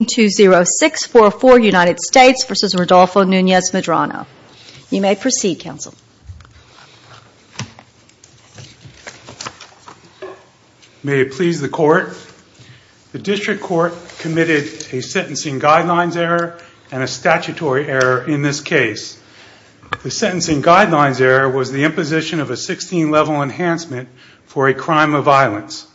You may proceed, Counsel. May it please the Court, the District Court committed a sentencing guidelines error and a statutory error in this case. The sentencing guidelines error was the imposition of a 16-level enhancement for a crime of violence.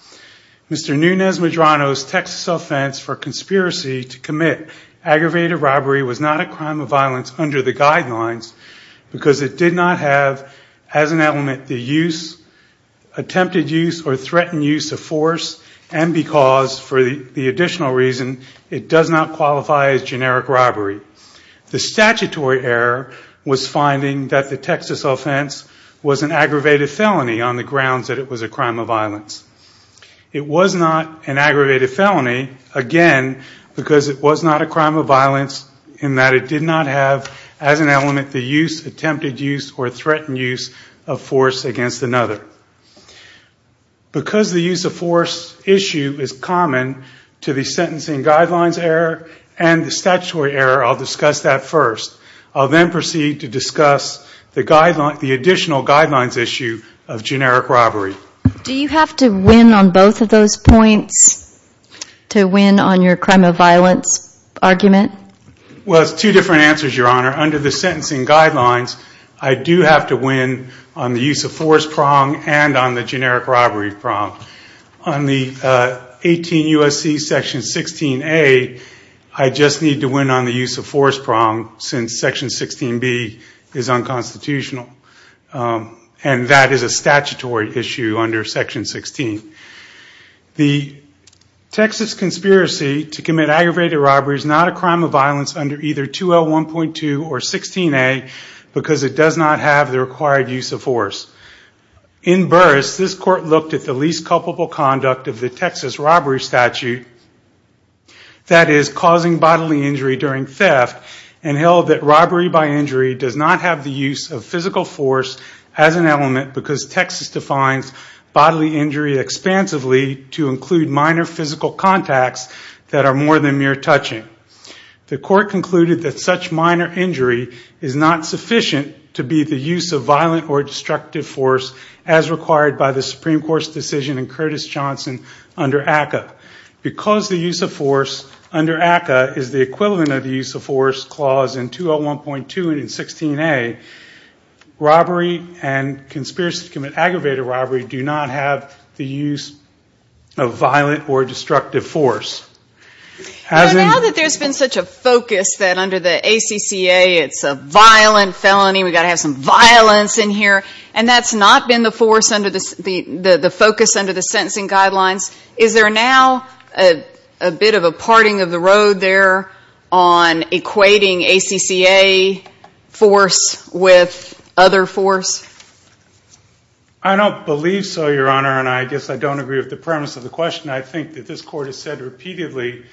Mr. Nunez-Medrano's Texas offense for conspiracy to commit aggravated robbery was not a crime of violence under the guidelines because it did not have as an element the attempted use or threatened use of force and because, for the additional reason, it does not qualify as generic robbery. The statutory error was finding that the Texas offense was an aggravated felony on the grounds that it was a crime of violence. It was not an aggravated felony, again, because it was not a crime of violence in that it did not have as an element the use, attempted use, or threatened use of force against another. Because the use of force issue is common to the sentencing guidelines error and the statutory error, I'll discuss that first. I'll then proceed to discuss the additional guidelines issue of generic robbery. Do you have to win on both of those points to win on your crime of violence argument? Well, it's two different answers, Your Honor. Under the sentencing guidelines, I do have to win on the use of force prong and on the generic robbery prong. On the 18 U.S.C. section 16A, I just need to win on the use of force prong since section 16B is unconstitutional. And that is a statutory issue under section 16. The Texas conspiracy to commit aggravated robbery is not a crime of violence under either 2L1.2 or 16A because it does not have the required use of force. In Burris, this court looked at the least culpable conduct of the Texas robbery statute, that is, causing bodily injury during theft and held that the use of physical force as an element because Texas defines bodily injury expansively to include minor physical contacts that are more than mere touching. The court concluded that such minor injury is not sufficient to be the use of violent or destructive force as required by the Supreme Court's decision in Curtis Johnson under ACCA. Because the use of force under ACCA is the equivalent of the use of force clause in 2L1.2 and in 16A, it does not have the required use of force. Robbery and conspiracy to commit aggravated robbery do not have the use of violent or destructive force. Now that there's been such a focus that under the ACCA it's a violent felony, we've got to have some violence in here, and that's not been the focus under the sentencing guidelines, is there now a bit of a parting of the road there on equating ACCA force with force? I don't believe so, Your Honor, and I guess I don't agree with the premise of the question. I think that this court has said repeatedly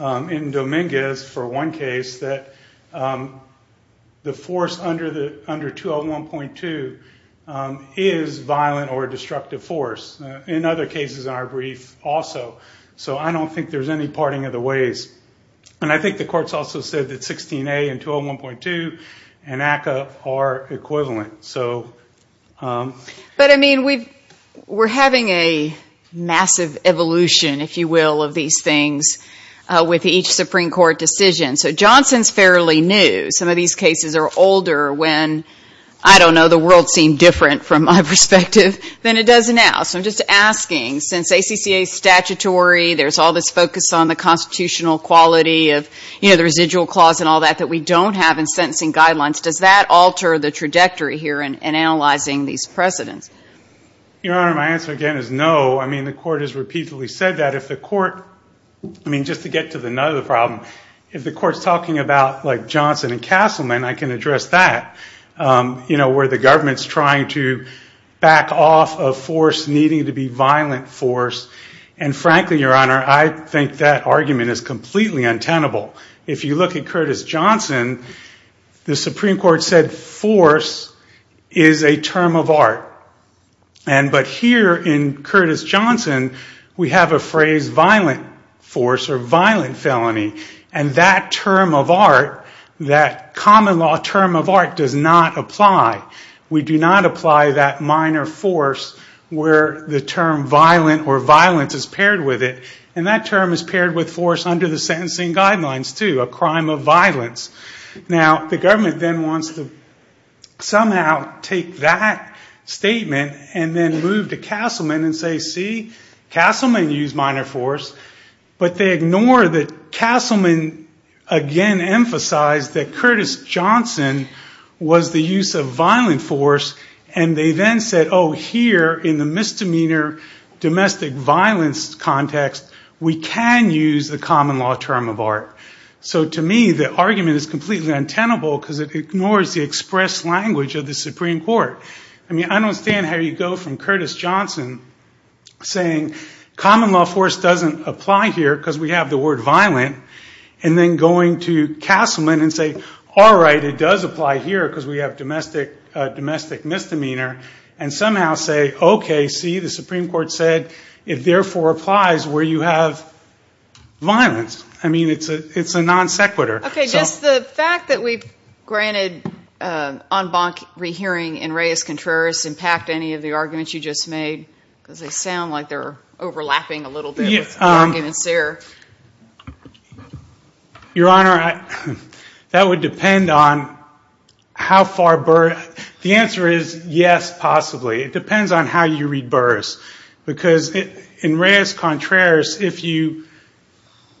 in Dominguez for one case that the force under 2L1.2 is violent or destructive force. In other cases in our brief, also. So I don't think there's any parting of the ways. And I think the court's also said that 16A and 2L1.2 and ACCA are equivalent. But I mean, we're having a massive evolution, if you will, of these things with each Supreme Court decision. So Johnson's fairly new. Some of these cases are older when, I don't know, the world seemed different from my perspective than it does now. So I'm just asking, since ACCA's statutory, there's all this focus on the constitutional quality of the residual clause and all that that we don't have in sentencing guidelines, does that alter the trajectory here in analyzing these precedents? Your Honor, my answer again is no. I mean, the court has repeatedly said that. I mean, just to get to the nut of the problem, if the court's talking about Johnson and Castleman, I can address that. Where the government's trying to back off of force needing to be violent force. And frankly, Your Honor, I think that argument is completely untenable. If you look at Curtis Johnson, the Supreme Court said force is a term of art. But here in Curtis Johnson, we have a phrase violent force or violent felony. And that term of art, that common law term of art, does not apply. We do not apply that minor force where the term violent or violence is paired with it. And that term is paired with force under the sentencing guidelines, too, a crime of violence. Now, the government then wants to somehow take that statement and then move to Castleman and say, see, Castleman used minor force. But they ignore that Castleman again emphasized that Curtis Johnson was the use of violent force. And they then said, oh, here in the misdemeanor domestic violence context, we can use the common law term of art. So to me, the argument is completely untenable because it ignores the express language of the Supreme Court. I mean, I don't understand how you go from Curtis Johnson saying common law force doesn't apply here because we have the word violent, and then going to Castleman and say, all right, it does apply here because we have domestic misdemeanor, and somehow say, okay, see, the Supreme Court said, it therefore applies where you have violence. I mean, it's a non sequitur. Okay, does the fact that we've granted en banc rehearing in reis contraris impact any of the arguments you just made? Because they sound like they're overlapping a little bit with the arguments there. Your Honor, that would depend on how far Burr—the answer is yes, possibly. It depends on how you read Burr's because in reis contraris, if you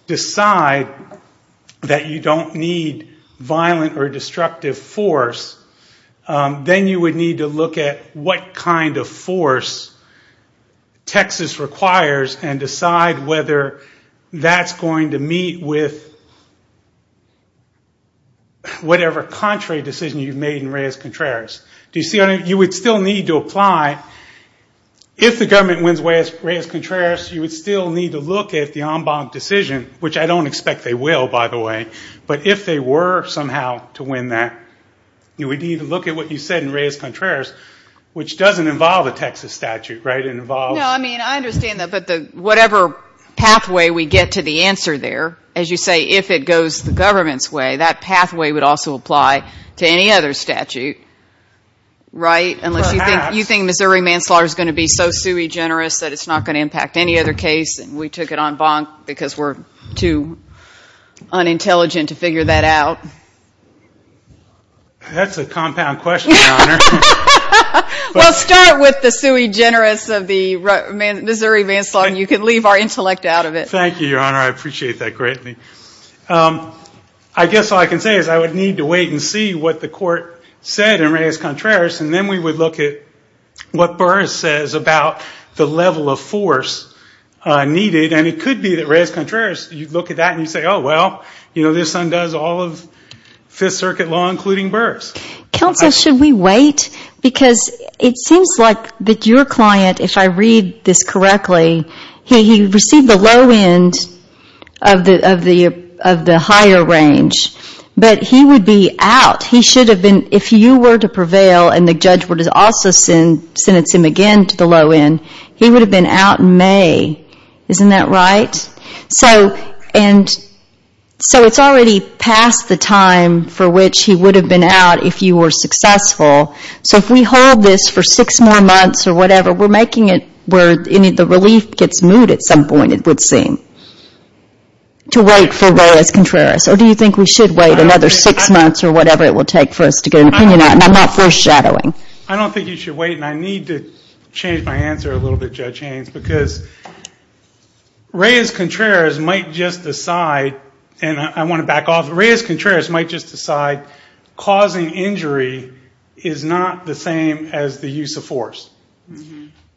decide that you don't need violent or destructive force, then you would need to look at what kind of force Texas requires and decide whether that's going to meet with whatever contrary decision you've made in reis contraris. Do you see what I mean? You would still need to apply—if the government wins reis contraris, you would still need to look at the en banc decision, which I don't expect they will, by the way, but if they were somehow to win that, you would need to look at what you said in reis contraris, which doesn't involve a Texas statute, right? It involves— Unless you think Missouri manslaughter is going to be so sui generis that it's not going to impact any other case and we took it en banc because we're too unintelligent to figure that out. That's a compound question, Your Honor. Well, start with the sui generis of the Missouri manslaughter and you can leave our intellect out of it. Thank you, Your Honor. I appreciate that greatly. I guess all I can say is I would need to wait and see what the court said in reis contraris and then we would look at what Burr says about the level of force needed. And it could be that reis contraris, you look at that and you say, oh, well, this undoes all of Fifth Circuit law, including Burr's. Counsel, should we wait? Because it seems like that your client, if I read this correctly, he received the low end of the higher range, but he would be out. If you were to prevail and the judge were to also sentence him again to the low end, he would have been out in May. Isn't that right? So it's already past the time for which he would have been out if you were successful. So if we hold this for six more months or whatever, we're making it where the relief gets moot at some point, it would seem, to wait for reis contraris. Or do you think we should wait another six months or whatever it will take for us to get an opinion out? And I'm not foreshadowing. I don't think you should wait and I need to change my answer a little bit, Judge Haynes, because reis contraris might just decide, and I want to back off, reis contraris might just decide causing injury is not the same as the use of force.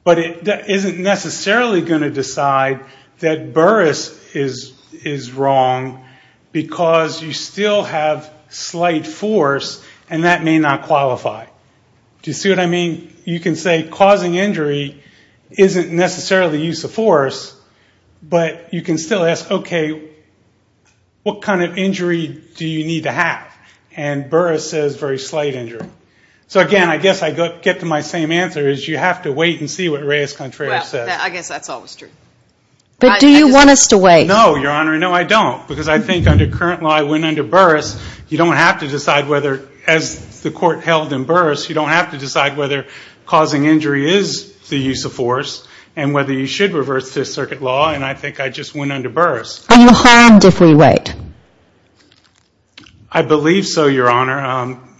But it isn't necessarily going to decide that Burris is wrong because you still have slight force and that may not qualify. Do you see what I mean? You can say causing injury isn't necessarily the use of force, but you can still ask, okay, what kind of injury do you need to have? And Burris says very slight injury. So, again, I guess I get to my same answer, is you have to wait and see what reis contraris says. But do you want us to wait? No, Your Honor, no, I don't, because I think under current law I went under Burris. You don't have to decide whether, as the court held in Burris, you don't have to decide whether causing injury is the use of force and whether you should reverse this circuit law, and I think I just went under Burris. Are you harmed if we wait? I believe so, Your Honor.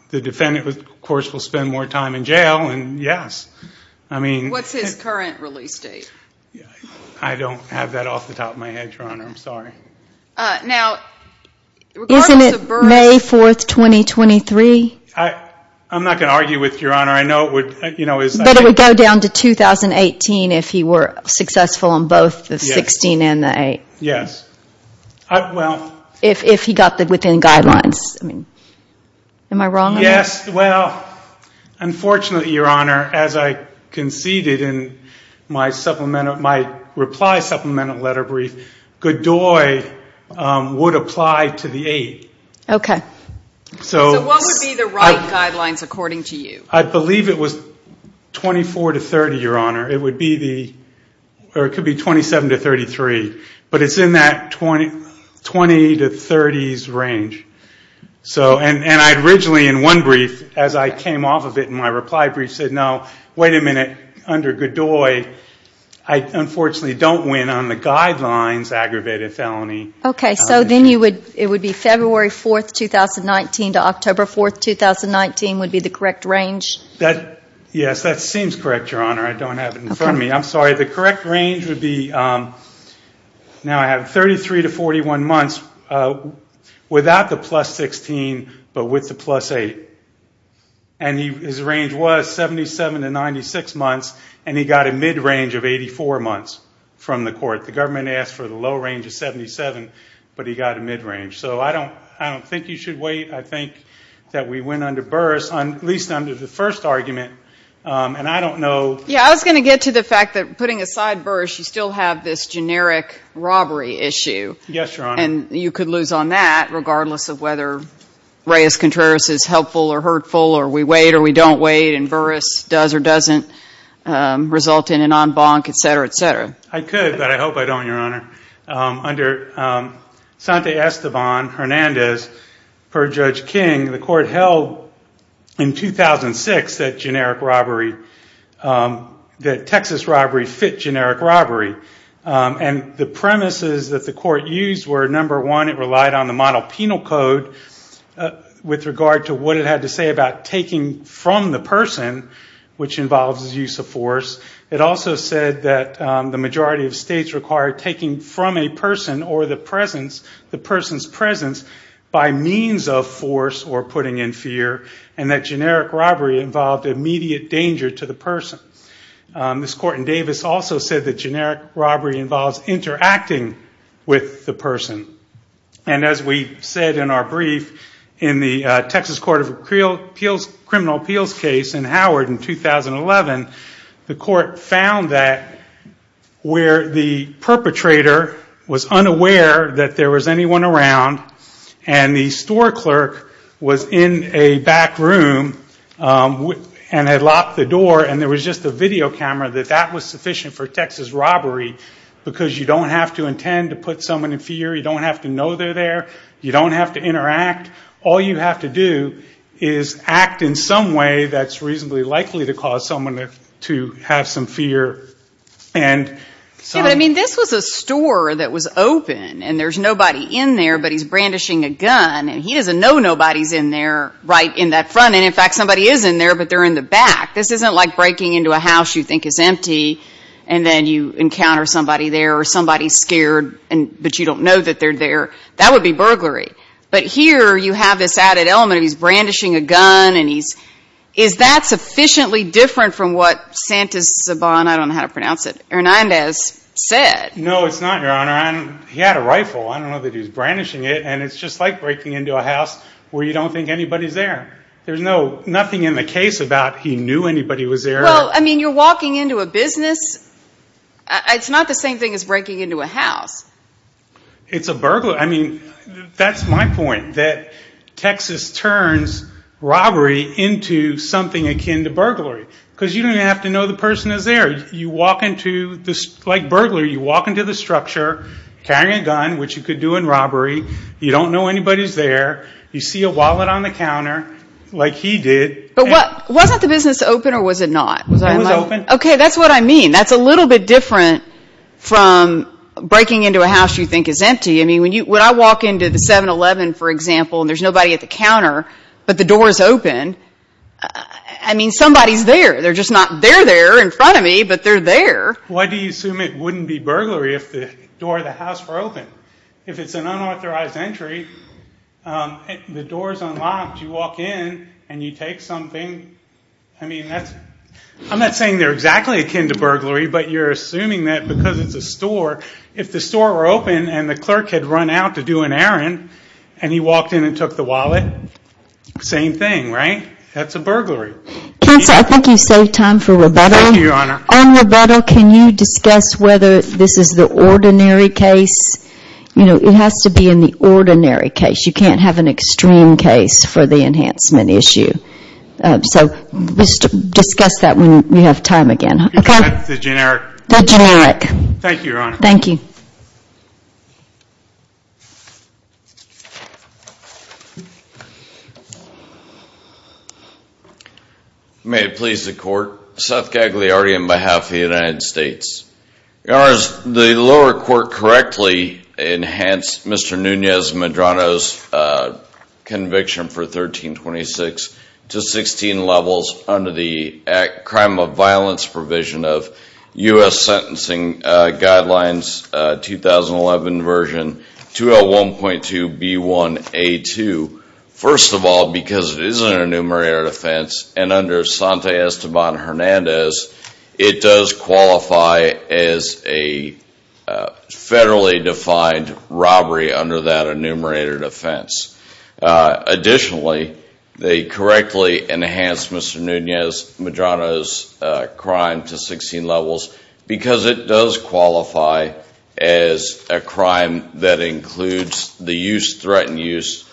The defendant, of course, will spend more time in jail, and yes. What's his current release date? I don't have that off the top of my head, Your Honor, I'm sorry. Now, isn't it May 4, 2023? I'm not going to argue with you, Your Honor. But it would go down to 2018 if he were successful on both the 16 and the 8. Yes. If he got within the guidelines. Am I wrong? Yes, well, unfortunately, Your Honor, as I conceded in my supplemental, my reply supplemental letter brief, Godoy would apply to the 8. So what would be the right guidelines according to you? I believe it was 24 to 30, Your Honor. It would be the, or it could be 27 to 33, but it's in that 20 to 30s range. And I originally, in one brief, as I came off of it in my reply brief, said, no, wait a minute, under Godoy, I unfortunately don't win on the guidelines aggravated felony. Okay, so then it would be February 4, 2019 to October 4, 2019 would be the correct range? Yes, that seems correct, Your Honor. I don't have it in front of me. I'm sorry. The correct range would be, now I have 33 to 41 months without the plus 16, but with the plus 8. And his range was 77 to 96 months, and he got a mid-range of 84 months from the court. The government asked for the low range of 77, but he got a mid-range. So I don't think you should wait. I think that we win under Burris, at least under the first argument. Yeah, I was going to get to the fact that, putting aside Burris, you still have this generic robbery issue. Yes, Your Honor. And you could lose on that, regardless of whether Reyes-Contreras is helpful or hurtful, or we wait or we don't wait, and Burris does or doesn't result in an en banc, et cetera, et cetera. I could, but I hope I don't, Your Honor. Under Sante Esteban Hernandez, per Judge King, the court held in 2006 that generic robbery, that Texas robbery fit generic robbery. And the premises that the court used were, number one, it relied on the model penal code with regard to what it had to say about taking from the person, which involves use of force. It also said that the majority of states require taking from a person or the presence, the person's presence, by means of force or putting in fear, and that generic robbery involved immediate danger to the person. This court in Davis also said that generic robbery involves interacting with the person. And as we said in our brief, in the Texas Court of Criminal Appeals case in Howard in 2011, the court said that generic robbery involves interacting with the person. And the court found that where the perpetrator was unaware that there was anyone around, and the store clerk was in a back room and had locked the door, and there was just a video camera, that that was sufficient for Texas robbery. Because you don't have to intend to put someone in fear, you don't have to know they're there, you don't have to interact. All you have to do is act in some way that's reasonably likely to cause someone to have some fear. I mean, this was a store that was open, and there's nobody in there, but he's brandishing a gun, and he doesn't know nobody's in there right in that front. And in fact, somebody is in there, but they're in the back. This isn't like breaking into a house you think is empty, and then you encounter somebody there, or somebody's scared, but you don't know that they're there. That would be burglary. But here, you have this added element of he's brandishing a gun, and he's... Is that sufficiently different from what Santos Zaban, I don't know how to pronounce it, Hernandez said? No, it's not, Your Honor. He had a rifle. I don't know that he's brandishing it, and it's just like breaking into a house where you don't think anybody's there. There's nothing in the case about he knew anybody was there. Well, I mean, you're walking into a business. It's not the same thing as breaking into a house. It's a burglary. I mean, that's my point, that Texas turns robbery into something akin to burglary, because you don't even have to know the person is there. You walk into this, like burglar, you walk into the structure carrying a gun, which you could do in robbery. You don't know anybody's there. You see a wallet on the counter, like he did. But wasn't the business open, or was it not? It was open. Okay, that's what I mean. That's a little bit different from breaking into a house you think is empty. I mean, when I walk into the 7-Eleven, for example, and there's nobody at the counter, but the door is open, I mean, somebody's there. They're just not there there in front of me, but they're there. Why do you assume it wouldn't be burglary if the door of the house were open? If it's an unauthorized entry, the door is unlocked. You walk in, and you take something. I'm not saying they're exactly akin to burglary, but you're assuming that because it's a store, if the store were open and the clerk had run out to do an errand, and he walked in and took the wallet, same thing, right? That's a burglary. Counsel, I think you've saved time for rebuttal. On rebuttal, can you discuss whether this is the ordinary case? It has to be in the ordinary case. You can't have an extreme case for the enhancement issue. So discuss that when we have time again. May it please the Court, Seth Gagliardi on behalf of the United States. Your Honors, the lower court correctly enhanced Mr. Nunez-Medrano's conviction for 1326 to 16 levels under the Crime of Violence Provision of U.S. Sentencing Guidelines 2011 Version 201.2B1A2. First of all, because it is an enumerated offense, and under Santa Esteban-Hernandez, it does qualify as a federally defined robbery under that enumerated offense. Additionally, they correctly enhanced Mr. Nunez-Medrano's crime to 16 levels because it does qualify as a crime that includes the use, threatened use,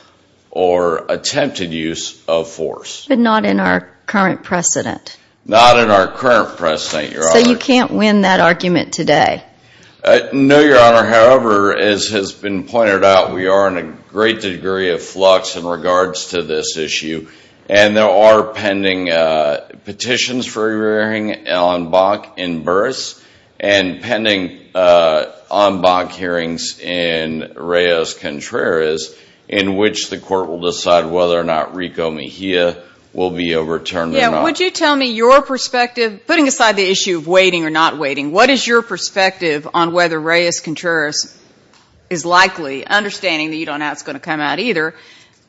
or attempted use of force. But not in our current precedent? Not in our current precedent, Your Honor. So you can't win that argument today? No, Your Honor. However, as has been pointed out, we are in a great degree of flux in regards to this issue. And there are pending petitions for hearing on Bach in Burris and pending on Bach hearings in Reyes-Contreras in which the Court will decide whether or not Rico Mejia will be overturned or not. Would you tell me your perspective, putting aside the issue of waiting or not waiting, what is your perspective on whether Reyes-Contreras is likely, understanding that you don't know how it's going to come out either,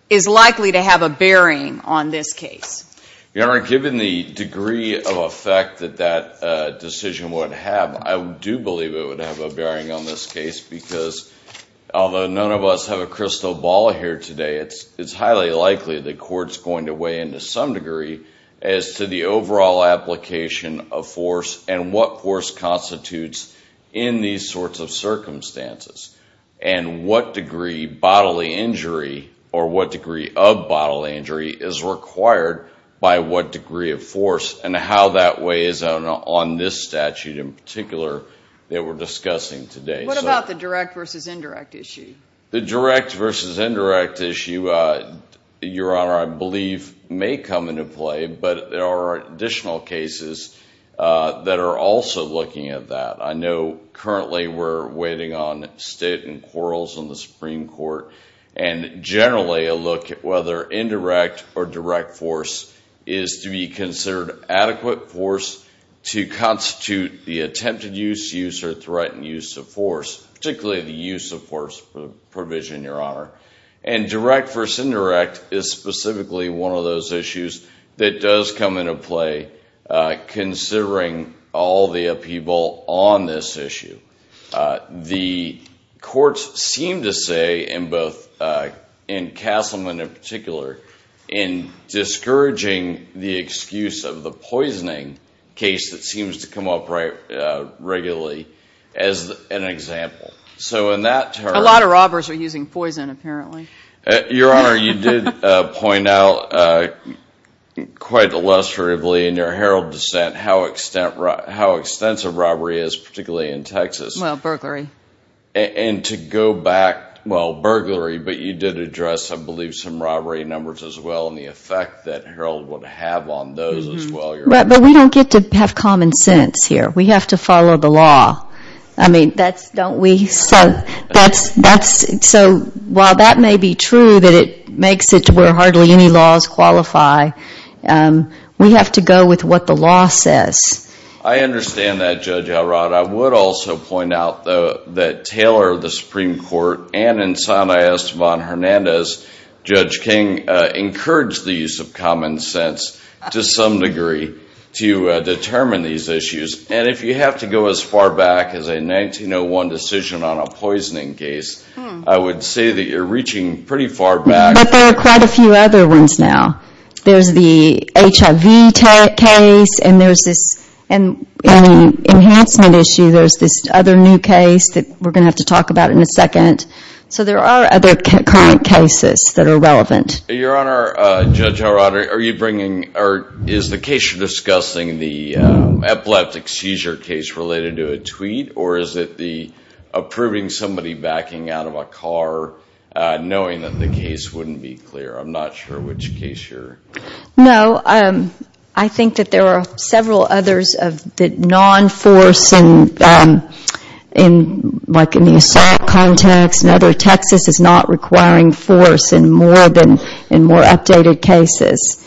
is likely to have a bearing on this case? Your Honor, given the degree of effect that that decision would have, I do believe it would have a bearing on this case because although none of us have a crystal ball here today, it's highly likely the Court's going to weigh in to some degree as to the overall application of force and what force constitutes in these sorts of circumstances. And what degree bodily injury or what degree of bodily injury is required by what degree of force and how that weighs on this statute in particular that we're discussing today. What about the direct versus indirect issue? The direct versus indirect issue, Your Honor, I believe may come into play, but there are additional cases that are also looking at that. I know currently we're waiting on state and quarrels in the Supreme Court, and generally a look at whether indirect or direct force is to be considered adequate force to constitute the attempted use, use, or threatened use of force, particularly the use of force provision, Your Honor. And direct versus indirect is specifically one of those issues that does come into play considering all the upheaval on this issue. The courts seem to say in both in Castleman in particular in discouraging the excuse of the poisoning case that seems to come up regularly as an example. A lot of robbers are using poison apparently. Your Honor, you did point out quite illustratively in your Herald dissent how extensive robbery is, particularly in Texas. Well, burglary. And to go back, well, burglary, but you did address, I believe, some robbery numbers as well and the effect that Herald would have on those as well, Your Honor. But we don't get to have common sense here. We have to follow the law. I mean, don't we? So while that may be true that it makes it to where hardly any laws qualify, we have to go with what the law says. I understand that, Judge Elrod. I would also point out, though, that Taylor, the Supreme Court, and in Santa Estevon Hernandez, Judge King, encouraged the use of common sense to some degree to determine these issues. And if you have to go as far back as a 1901 decision on a poisoning case, I would say that you're reaching pretty far back. But there are quite a few other ones now. There's the HIV case, and there's this enhancement issue. There's this other new case that we're going to have to talk about in a second. So there are other current cases that are relevant. Your Honor, Judge Elrod, are you bringing, or is the case you're discussing the epileptic seizure case related to a tweet, or is it the approving somebody backing out of a car, knowing that the case wouldn't be clear? I'm not sure which case you're... No, I think that there are several others of the non-force, like in the assault context and other. Texas is not requiring force in more updated cases.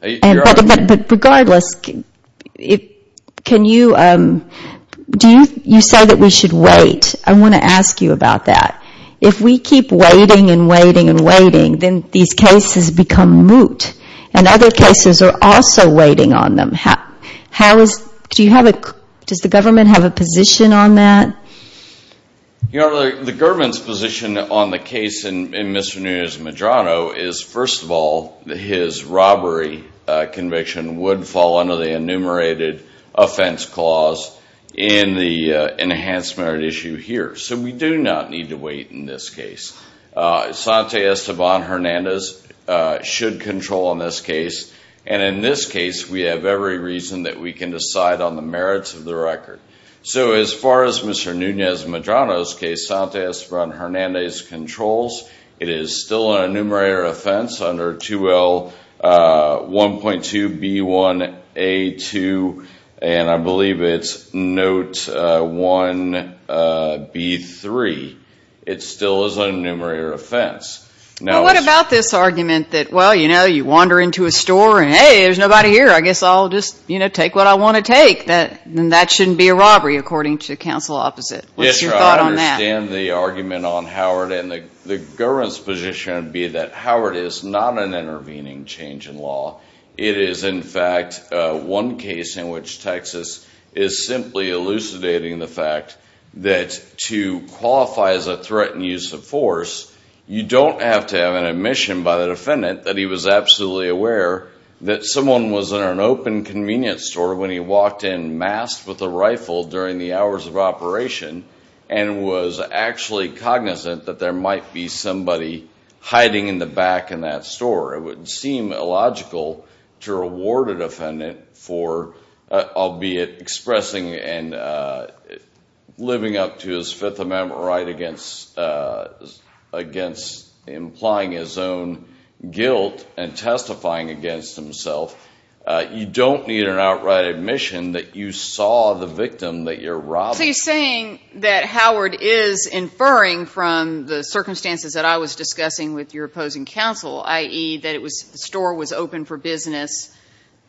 But regardless, do you say that we should wait? I want to ask you about that. If we keep waiting and waiting and waiting, then these cases become moot. And other cases are also waiting on them. How is... Do you have a... Does the government have a position on that? Your Honor, the government's position on the case in Mr. Nunez-Medrano is, first of all, his robbery conviction would fall under the enumerated offense clause in the enhanced merit issue here. So we do not need to wait in this case. Sante Esteban Hernandez should control in this case. And in this case, we have every reason that we can decide on the merits of the record. So as far as Mr. Nunez-Medrano's case, Sante Esteban Hernandez controls. It is still an enumerated offense under 2L1.2B1A2. And I believe it's Note 1B3. It still is an enumerated offense. What about this argument that, well, you know, you wander into a store and, hey, there's nobody here. I guess I'll just, you know, take what I want to take. Then that shouldn't be a robbery, according to counsel opposite. What's your thought on that? I understand the argument on Howard. And the government's position would be that Howard is not an intervening change in law. It is, in fact, one case in which Texas is simply elucidating the fact that to qualify as a threatened use of force, you don't have to have an admission by the defendant that he was absolutely aware that someone was in an open convenience store when he walked in, masked with a rifle during the hours of operation, and was actually cognizant that there might be somebody hiding in the back in that store. It would seem illogical to reward a defendant for, albeit expressing and living up to his Fifth Amendment right against implying his own guilt and testifying against himself. You don't need an outright admission that you saw the victim that you're robbing. So you're saying that Howard is inferring from the circumstances that I was discussing with your opposing counsel, i.e., that the store was open for business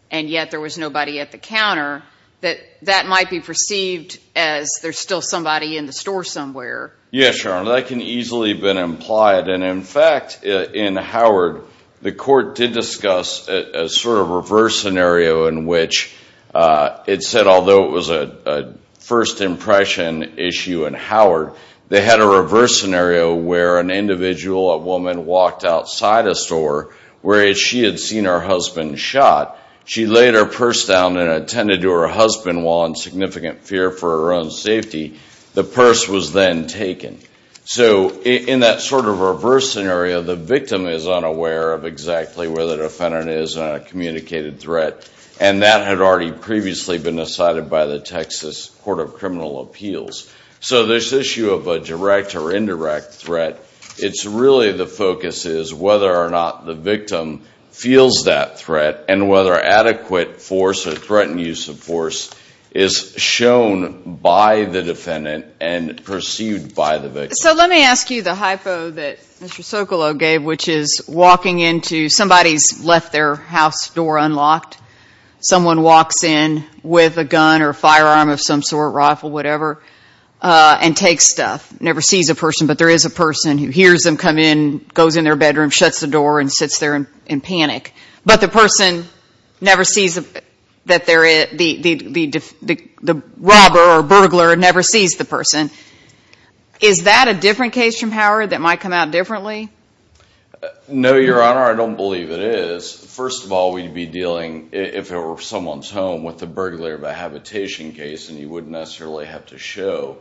and yet there was nobody at the counter, that that might be perceived as there's still somebody in the store somewhere. Yes, Your Honor. That can easily have been implied. And, in fact, in Howard, the court did discuss a sort of reverse scenario in which it said, although it was a first impression issue in Howard, they had a reverse scenario where an individual, a woman, walked outside a store where she had seen her husband shot. She laid her purse down and attended to her husband while in significant fear for her own safety. The purse was then taken. So in that sort of reverse scenario, the victim is unaware of exactly where the defendant is on a communicated threat, and that had already previously been decided by the Texas Court of Criminal Appeals. So this issue of a direct or indirect threat, it's really the focus is whether or not the victim feels that threat and whether adequate force or threatened use of force is shown by the defendant and perceived by the victim. So let me ask you the hypo that Mr. Socolow gave, which is walking into somebody's left their house door unlocked. Someone walks in with a gun or a firearm of some sort, rifle, whatever, and takes stuff. Never sees a person, but there is a person who hears them come in, goes in their bedroom, shuts the door, and sits there in panic. But the person never sees that the robber or burglar never sees the person. Is that a different case from Howard that might come out differently? No, Your Honor, I don't believe it is. First of all, we'd be dealing, if it were someone's home, with a burglar by habitation case, and you wouldn't necessarily have to show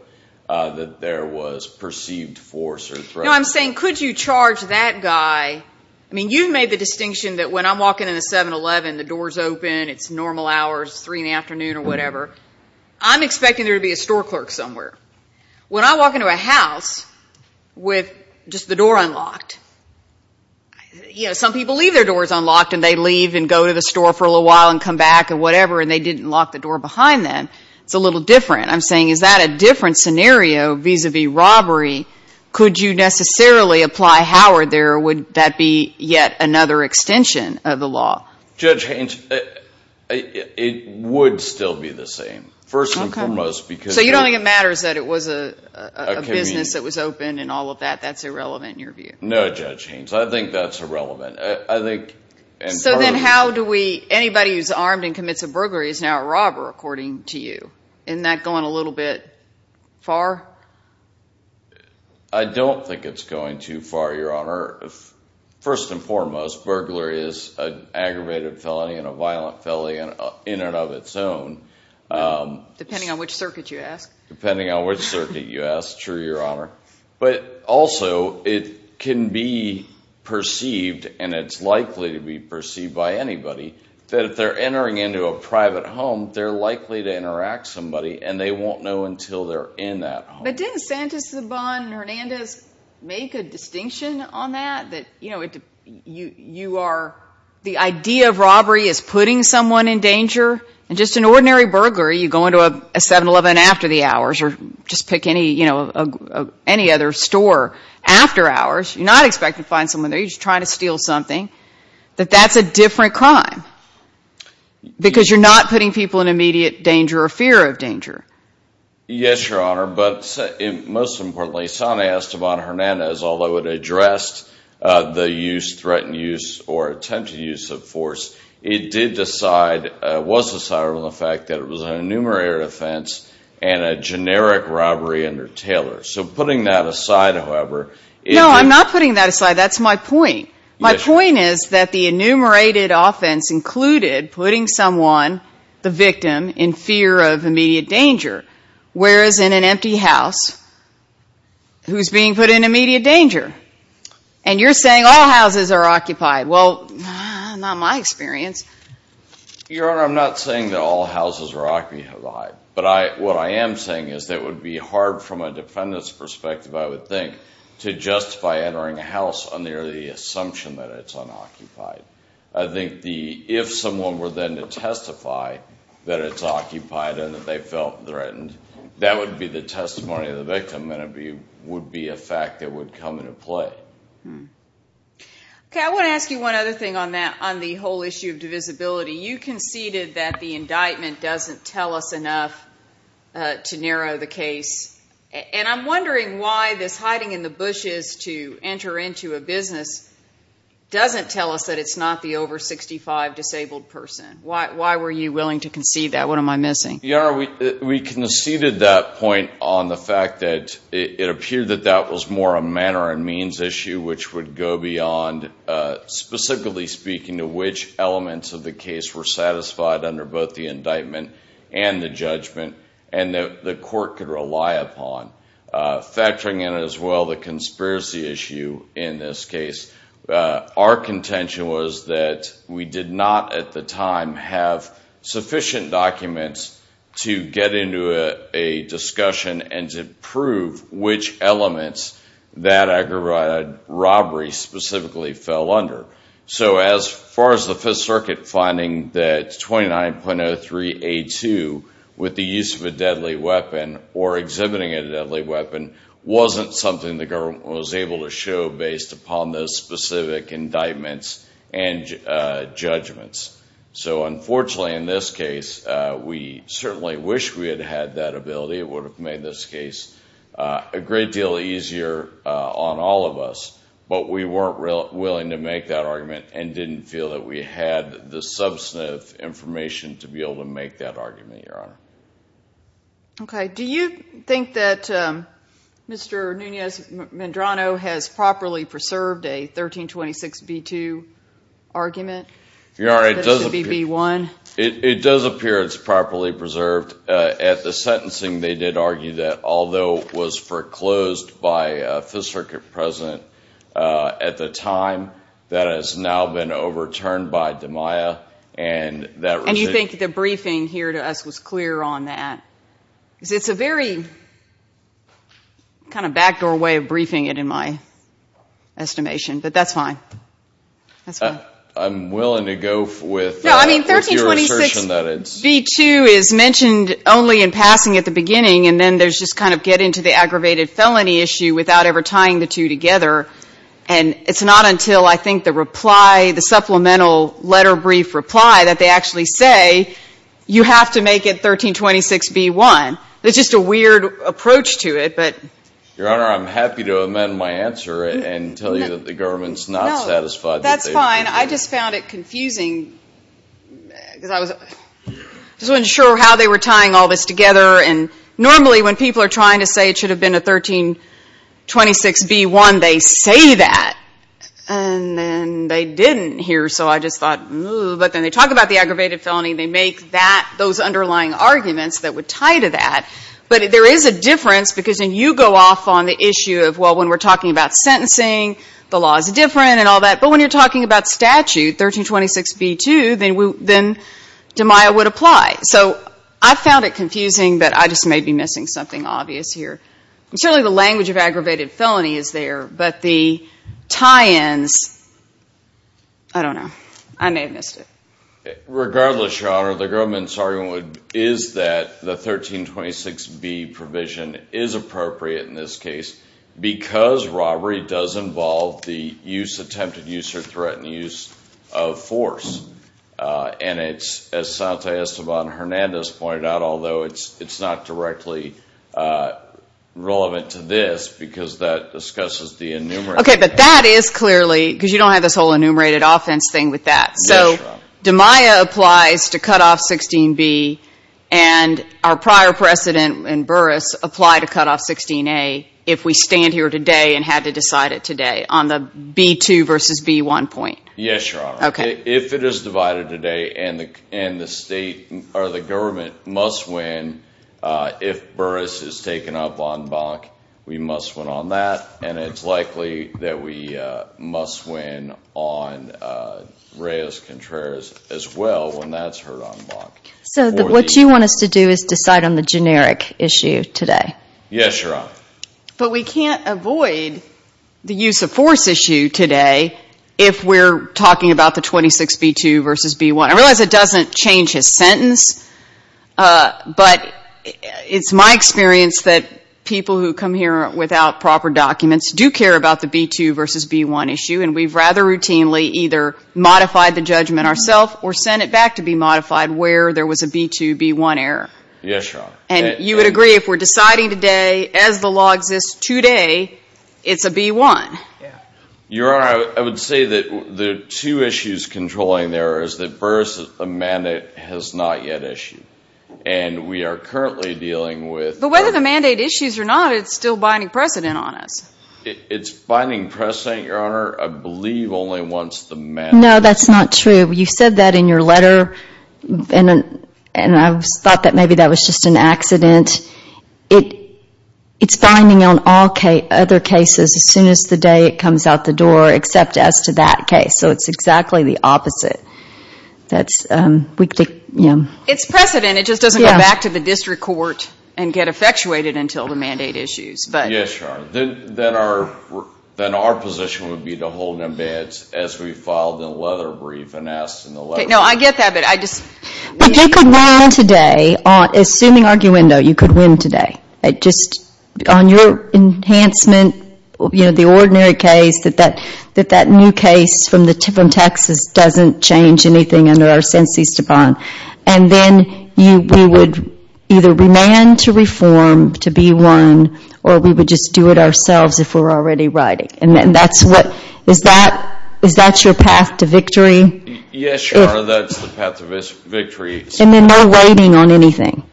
that there was perceived force or threat. No, I'm saying could you charge that guy? I mean, you've made the distinction that when I'm walking in a 7-Eleven, the door's open, it's normal hours, 3 in the afternoon or whatever. I'm expecting there to be a store clerk somewhere. When I walk into a house with just the door unlocked, you know, some people leave their doors unlocked and they leave and go to the store for a little while and come back and whatever, and they didn't lock the door behind them. It's a little different. I'm saying is that a different scenario vis-à-vis robbery? Could you necessarily apply Howard there, or would that be yet another extension of the law? Judge Haynes, it would still be the same, first and foremost. Okay. So you don't think it matters that it was a business that was open and all of that? That's irrelevant in your view? No, Judge Haynes, I think that's irrelevant. So then how do we, anybody who's armed and commits a burglary is now a robber, according to you. Isn't that going a little bit far? I don't think it's going too far, Your Honor. First and foremost, burglary is an aggravated felony and a violent felony in and of its own. Depending on which circuit you ask. Depending on which circuit you ask, true, Your Honor. But also, it can be perceived, and it's likely to be perceived by anybody, that if they're entering into a private home, they're likely to interact with somebody and they won't know until they're in that home. But didn't Santus Zabon and Hernandez make a distinction on that? That, you know, you are, the idea of robbery is putting someone in danger, and just an ordinary burglary, you go into a 7-Eleven after the hours, or just pick any, you know, any other store after hours, you're not expected to find someone there, you're just trying to steal something, that that's a different crime. Because you're not putting people in immediate danger or fear of danger. Yes, Your Honor, but most importantly, Santus Zabon and Hernandez, although it addressed the use, threatened use, or attempted use of force, it did decide, was decided on the fact that it was an enumerated offense and a generic robbery under Taylor. So putting that aside, however. No, I'm not putting that aside, that's my point. My point is that the enumerated offense included putting someone, the victim, in fear of immediate danger, whereas in an empty house, who's being put in immediate danger? And you're saying all houses are occupied. Well, not in my experience. Your Honor, I'm not saying that all houses are occupied, but what I am saying is that it would be hard from a defendant's perspective, I would think, to justify entering a house under the assumption that it's unoccupied. I think if someone were then to testify that it's occupied and that they felt threatened, that would be the testimony of the victim and it would be a fact that would come into play. Okay, I want to ask you one other thing on that, on the whole issue of divisibility. You conceded that the indictment doesn't tell us enough to narrow the case, and I'm wondering why this hiding in the bushes to enter into a business doesn't tell us that it's not the over 65 disabled person. Why were you willing to concede that? What am I missing? Your Honor, we conceded that point on the fact that it appeared that that was more a manner and means issue which would go beyond, specifically speaking, to which elements of the case were satisfied under both the indictment and the judgment, and that the court could rely upon. Factoring in as well the conspiracy issue in this case, our contention was that we did not at the time have sufficient documents to get into a discussion and to prove which elements that robbery specifically fell under. As far as the Fifth Circuit finding that 29.03A2, with the use of a deadly weapon or exhibiting a deadly weapon, wasn't something the government was able to show based upon those specific indictments and judgments. Unfortunately, in this case, we certainly wish we had had that ability. It would have made this case a great deal easier on all of us, but we weren't willing to make that argument and didn't feel that we had the substantive information to be able to make that argument, Your Honor. Okay. Do you think that Mr. Nunez-Medrano has properly preserved a 1326B2 argument? Your Honor, it does appear it's properly preserved. At the sentencing, they did argue that although it was foreclosed by the Fifth Circuit President at the time, that has now been overturned by DeMaia. And you think the briefing here to us was clear on that? Because it's a very kind of backdoor way of briefing it in my estimation, but that's fine. I'm willing to go with your assertion that it's – No, I mean 1326B2 is mentioned only in passing at the beginning, and then there's just kind of get into the aggravated felony issue without ever tying the two together. And it's not until I think the reply, the supplemental letter brief reply, that they actually say you have to make it 1326B1. It's just a weird approach to it, but – Your Honor, I'm happy to amend my answer and tell you that the government's not satisfied. No, that's fine. I just found it confusing because I was – I just wasn't sure how they were tying all this together. And normally when people are trying to say it should have been a 1326B1, they say that. And then they didn't here, so I just thought, ooh. But then they talk about the aggravated felony, and they make that – those underlying arguments that would tie to that. But there is a difference because then you go off on the issue of, well, when we're talking about sentencing, the law is different and all that. But when you're talking about statute, 1326B2, then DeMaio would apply. So I found it confusing, but I just may be missing something obvious here. And certainly the language of aggravated felony is there, but the tie-ins – I don't know. I may have missed it. Regardless, Your Honor, the government's argument is that the 1326B provision is appropriate in this case because robbery does involve the use – attempted use or threatened use of force. And it's – as Santa Esteban Hernandez pointed out, although it's not directly relevant to this because that discusses the enumerated – Okay, but that is clearly – because you don't have this whole enumerated offense thing with that. Yes, Your Honor. So DeMaio applies to cut off 16B, and our prior precedent in Burris applied to cut off 16A if we stand here today and had to decide it today on the B2 versus B1 point. Yes, Your Honor. Okay. If it is divided today and the state – or the government must win if Burris is taken up on Bonk, we must win on that, and it's likely that we must win on Reyes-Contreras as well when that's heard on Bonk. So what you want us to do is decide on the generic issue today. Yes, Your Honor. But we can't avoid the use of force issue today if we're talking about the 26B2 versus B1. I realize it doesn't change his sentence, but it's my experience that people who come here without proper documents do care about the B2 versus B1 issue, and we've rather routinely either modified the judgment ourself or sent it back to be modified where there was a B2, B1 error. Yes, Your Honor. And you would agree if we're deciding today, as the law exists today, it's a B1? Yeah. Your Honor, I would say that the two issues controlling there is that Burris' mandate has not yet issued, and we are currently dealing with – But whether the mandate issues or not, it's still binding precedent on us. It's binding precedent, Your Honor. I believe only once the mandate – No, that's not true. You said that in your letter, and I thought that maybe that was just an accident. It's binding on all other cases as soon as the day it comes out the door, except as to that case. So it's exactly the opposite. It's precedent. It just doesn't go back to the district court and get effectuated until the mandate issues. Yes, Your Honor. Then our position would be to hold them bad as we filed the leather brief and asked in the letter. Okay. No, I get that, but I just – But you could win today. Assuming arguendo, you could win today. Just on your enhancement, you know, the ordinary case that that new case from Texas doesn't change anything And then we would either remand to reform to be won, or we would just do it ourselves if we're already riding. Is that your path to victory? Yes, Your Honor, that's the path to victory. And then no waiting on anything.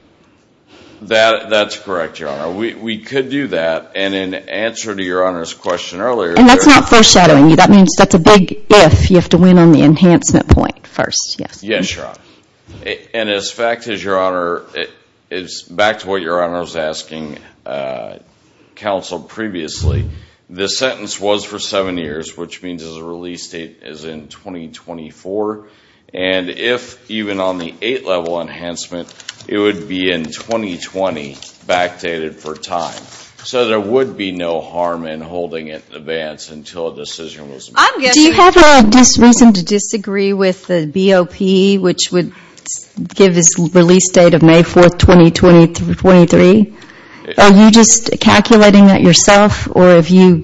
That's correct, Your Honor. We could do that, and in answer to Your Honor's question earlier – And that's not foreshadowing you. That means that's a big if. You have to win on the enhancement point first. Yes. Yes, Your Honor. And as fact is, Your Honor, it's back to what Your Honor was asking counsel previously. The sentence was for seven years, which means the release date is in 2024. And if even on the eight-level enhancement, it would be in 2020, backdated for time. So there would be no harm in holding it in advance until a decision was made. Do you have a reason to disagree with the BOP, which would give his release date of May 4, 2023? Are you just calculating that yourself, or do you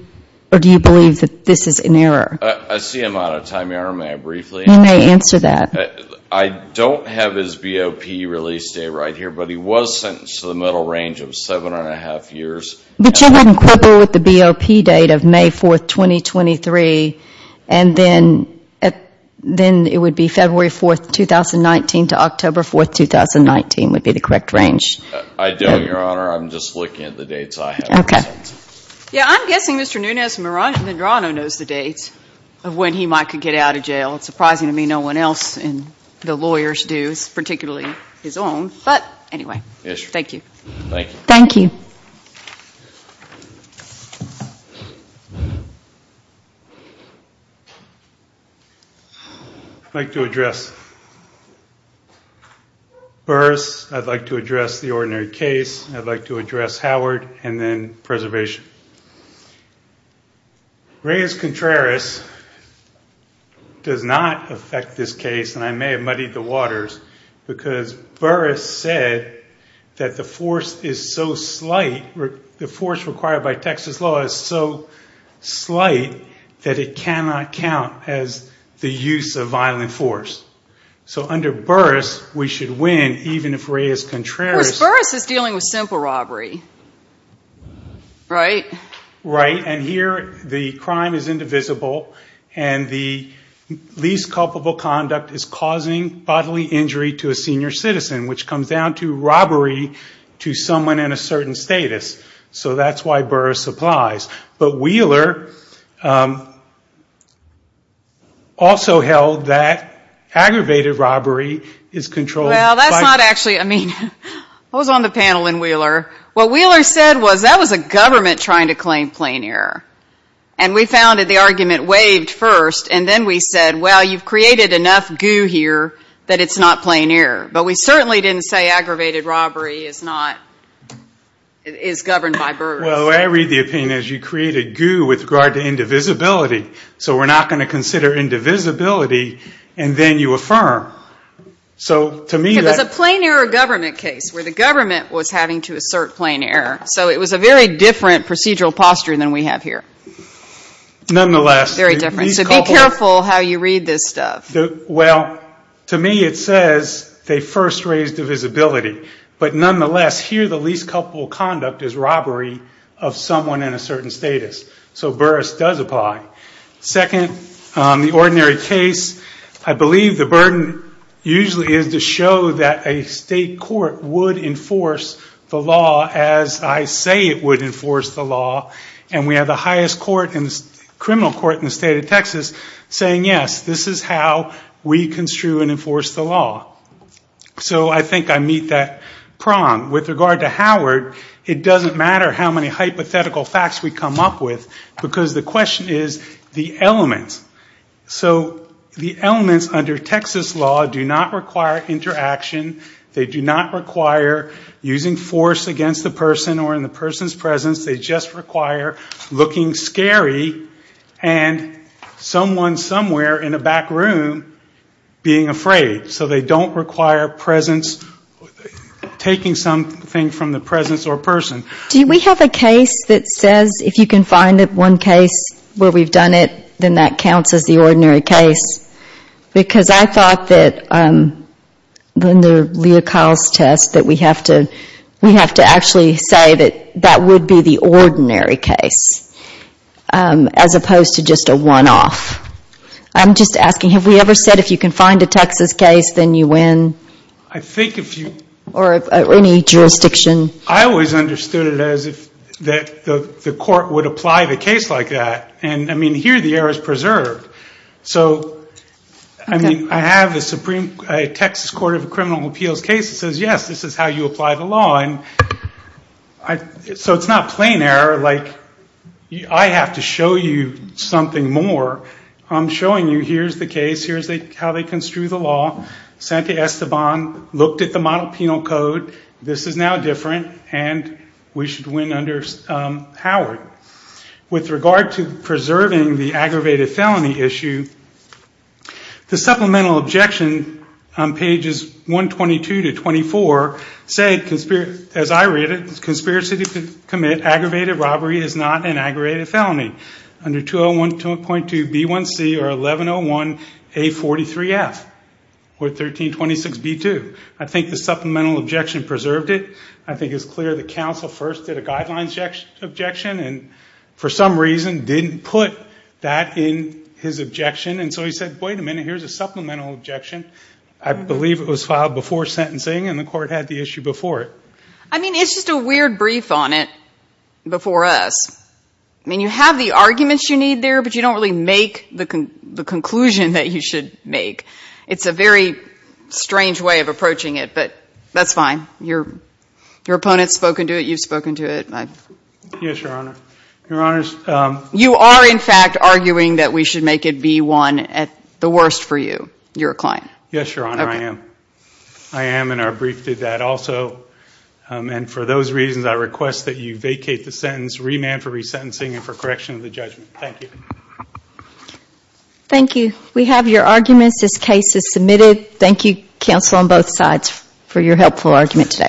believe that this is an error? I see him out of time, Your Honor. May I briefly answer that? You may answer that. I don't have his BOP release date right here, but he was sentenced to the middle range of seven and a half years. But you wouldn't quibble with the BOP date of May 4, 2023, and then it would be February 4, 2019 to October 4, 2019 would be the correct range. I don't, Your Honor. I'm just looking at the dates I have. Okay. Yeah, I'm guessing Mr. Nunez-Medrano knows the dates of when he might get out of jail. Well, it's surprising to me no one else in the lawyers do, particularly his own. But anyway, thank you. Thank you. I'd like to address Burris. I'd like to address the ordinary case. I'd like to address Howard and then preservation. Reyes-Contreras does not affect this case, and I may have muddied the waters, because Burris said that the force is so slight, the force required by Texas law is so slight, that it cannot count as the use of violent force. So under Burris, we should win even if Reyes-Contreras- Right, and here the crime is indivisible, and the least culpable conduct is causing bodily injury to a senior citizen, which comes down to robbery to someone in a certain status. So that's why Burris applies. But Wheeler also held that aggravated robbery is controlled. Well, that's not actually, I mean, I was on the panel in Wheeler. What Wheeler said was that was a government trying to claim plain error. And we found that the argument waived first, and then we said, well, you've created enough goo here that it's not plain error. But we certainly didn't say aggravated robbery is governed by Burris. Well, I read the opinion as you created goo with regard to indivisibility, so we're not going to consider indivisibility, and then you affirm. So to me that- It was a plain error government case where the government was having to assert plain error. So it was a very different procedural posture than we have here. Nonetheless- Very different. So be careful how you read this stuff. Well, to me it says they first raised divisibility. But nonetheless, here the least culpable conduct is robbery of someone in a certain status. So Burris does apply. Second, the ordinary case, I believe the burden usually is to show that a state court would enforce the law as I say it would enforce the law. And we have the highest criminal court in the state of Texas saying, yes, this is how we construe and enforce the law. So I think I meet that prong. With regard to Howard, it doesn't matter how many hypothetical facts we come up with, because the question is the elements. So the elements under Texas law do not require interaction. They do not require using force against the person or in the person's presence. They just require looking scary and someone somewhere in a back room being afraid. So they don't require presence, taking something from the presence or person. Do we have a case that says if you can find one case where we've done it, then that counts as the ordinary case? Because I thought that in the Leo Kyle's test that we have to actually say that that would be the ordinary case, as opposed to just a one-off. I'm just asking, have we ever said if you can find a Texas case, then you win? I think if you. Or any jurisdiction. I always understood it as if the court would apply the case like that. And, I mean, here the error is preserved. So, I mean, I have a Texas Court of Criminal Appeals case that says, yes, this is how you apply the law. And so it's not plain error. Like, I have to show you something more. I'm showing you here's the case. Here's how they construe the law. Sante Esteban looked at the model penal code. This is now different, and we should win under Howard. With regard to preserving the aggravated felony issue, the supplemental objection on pages 122 to 24 said, as I read it, conspiracy to commit aggravated robbery is not an aggravated felony. Under 201.2B1C or 1101A43F or 1326B2. I think the supplemental objection preserved it. I think it's clear that counsel first did a guidelines objection and, for some reason, didn't put that in his objection. And so he said, wait a minute, here's a supplemental objection. I believe it was filed before sentencing, and the court had the issue before it. I mean, it's just a weird brief on it before us. I mean, you have the arguments you need there, but you don't really make the conclusion that you should make. It's a very strange way of approaching it, but that's fine. Your opponent's spoken to it. You've spoken to it. Yes, Your Honor. Your Honors. You are, in fact, arguing that we should make it B1 at the worst for you. You're a client. Yes, Your Honor, I am. I am, and our brief did that also. And for those reasons, I request that you vacate the sentence, remand for resentencing, and for correction of the judgment. Thank you. Thank you. We have your arguments. This case is submitted. Thank you, counsel on both sides, for your helpful argument today.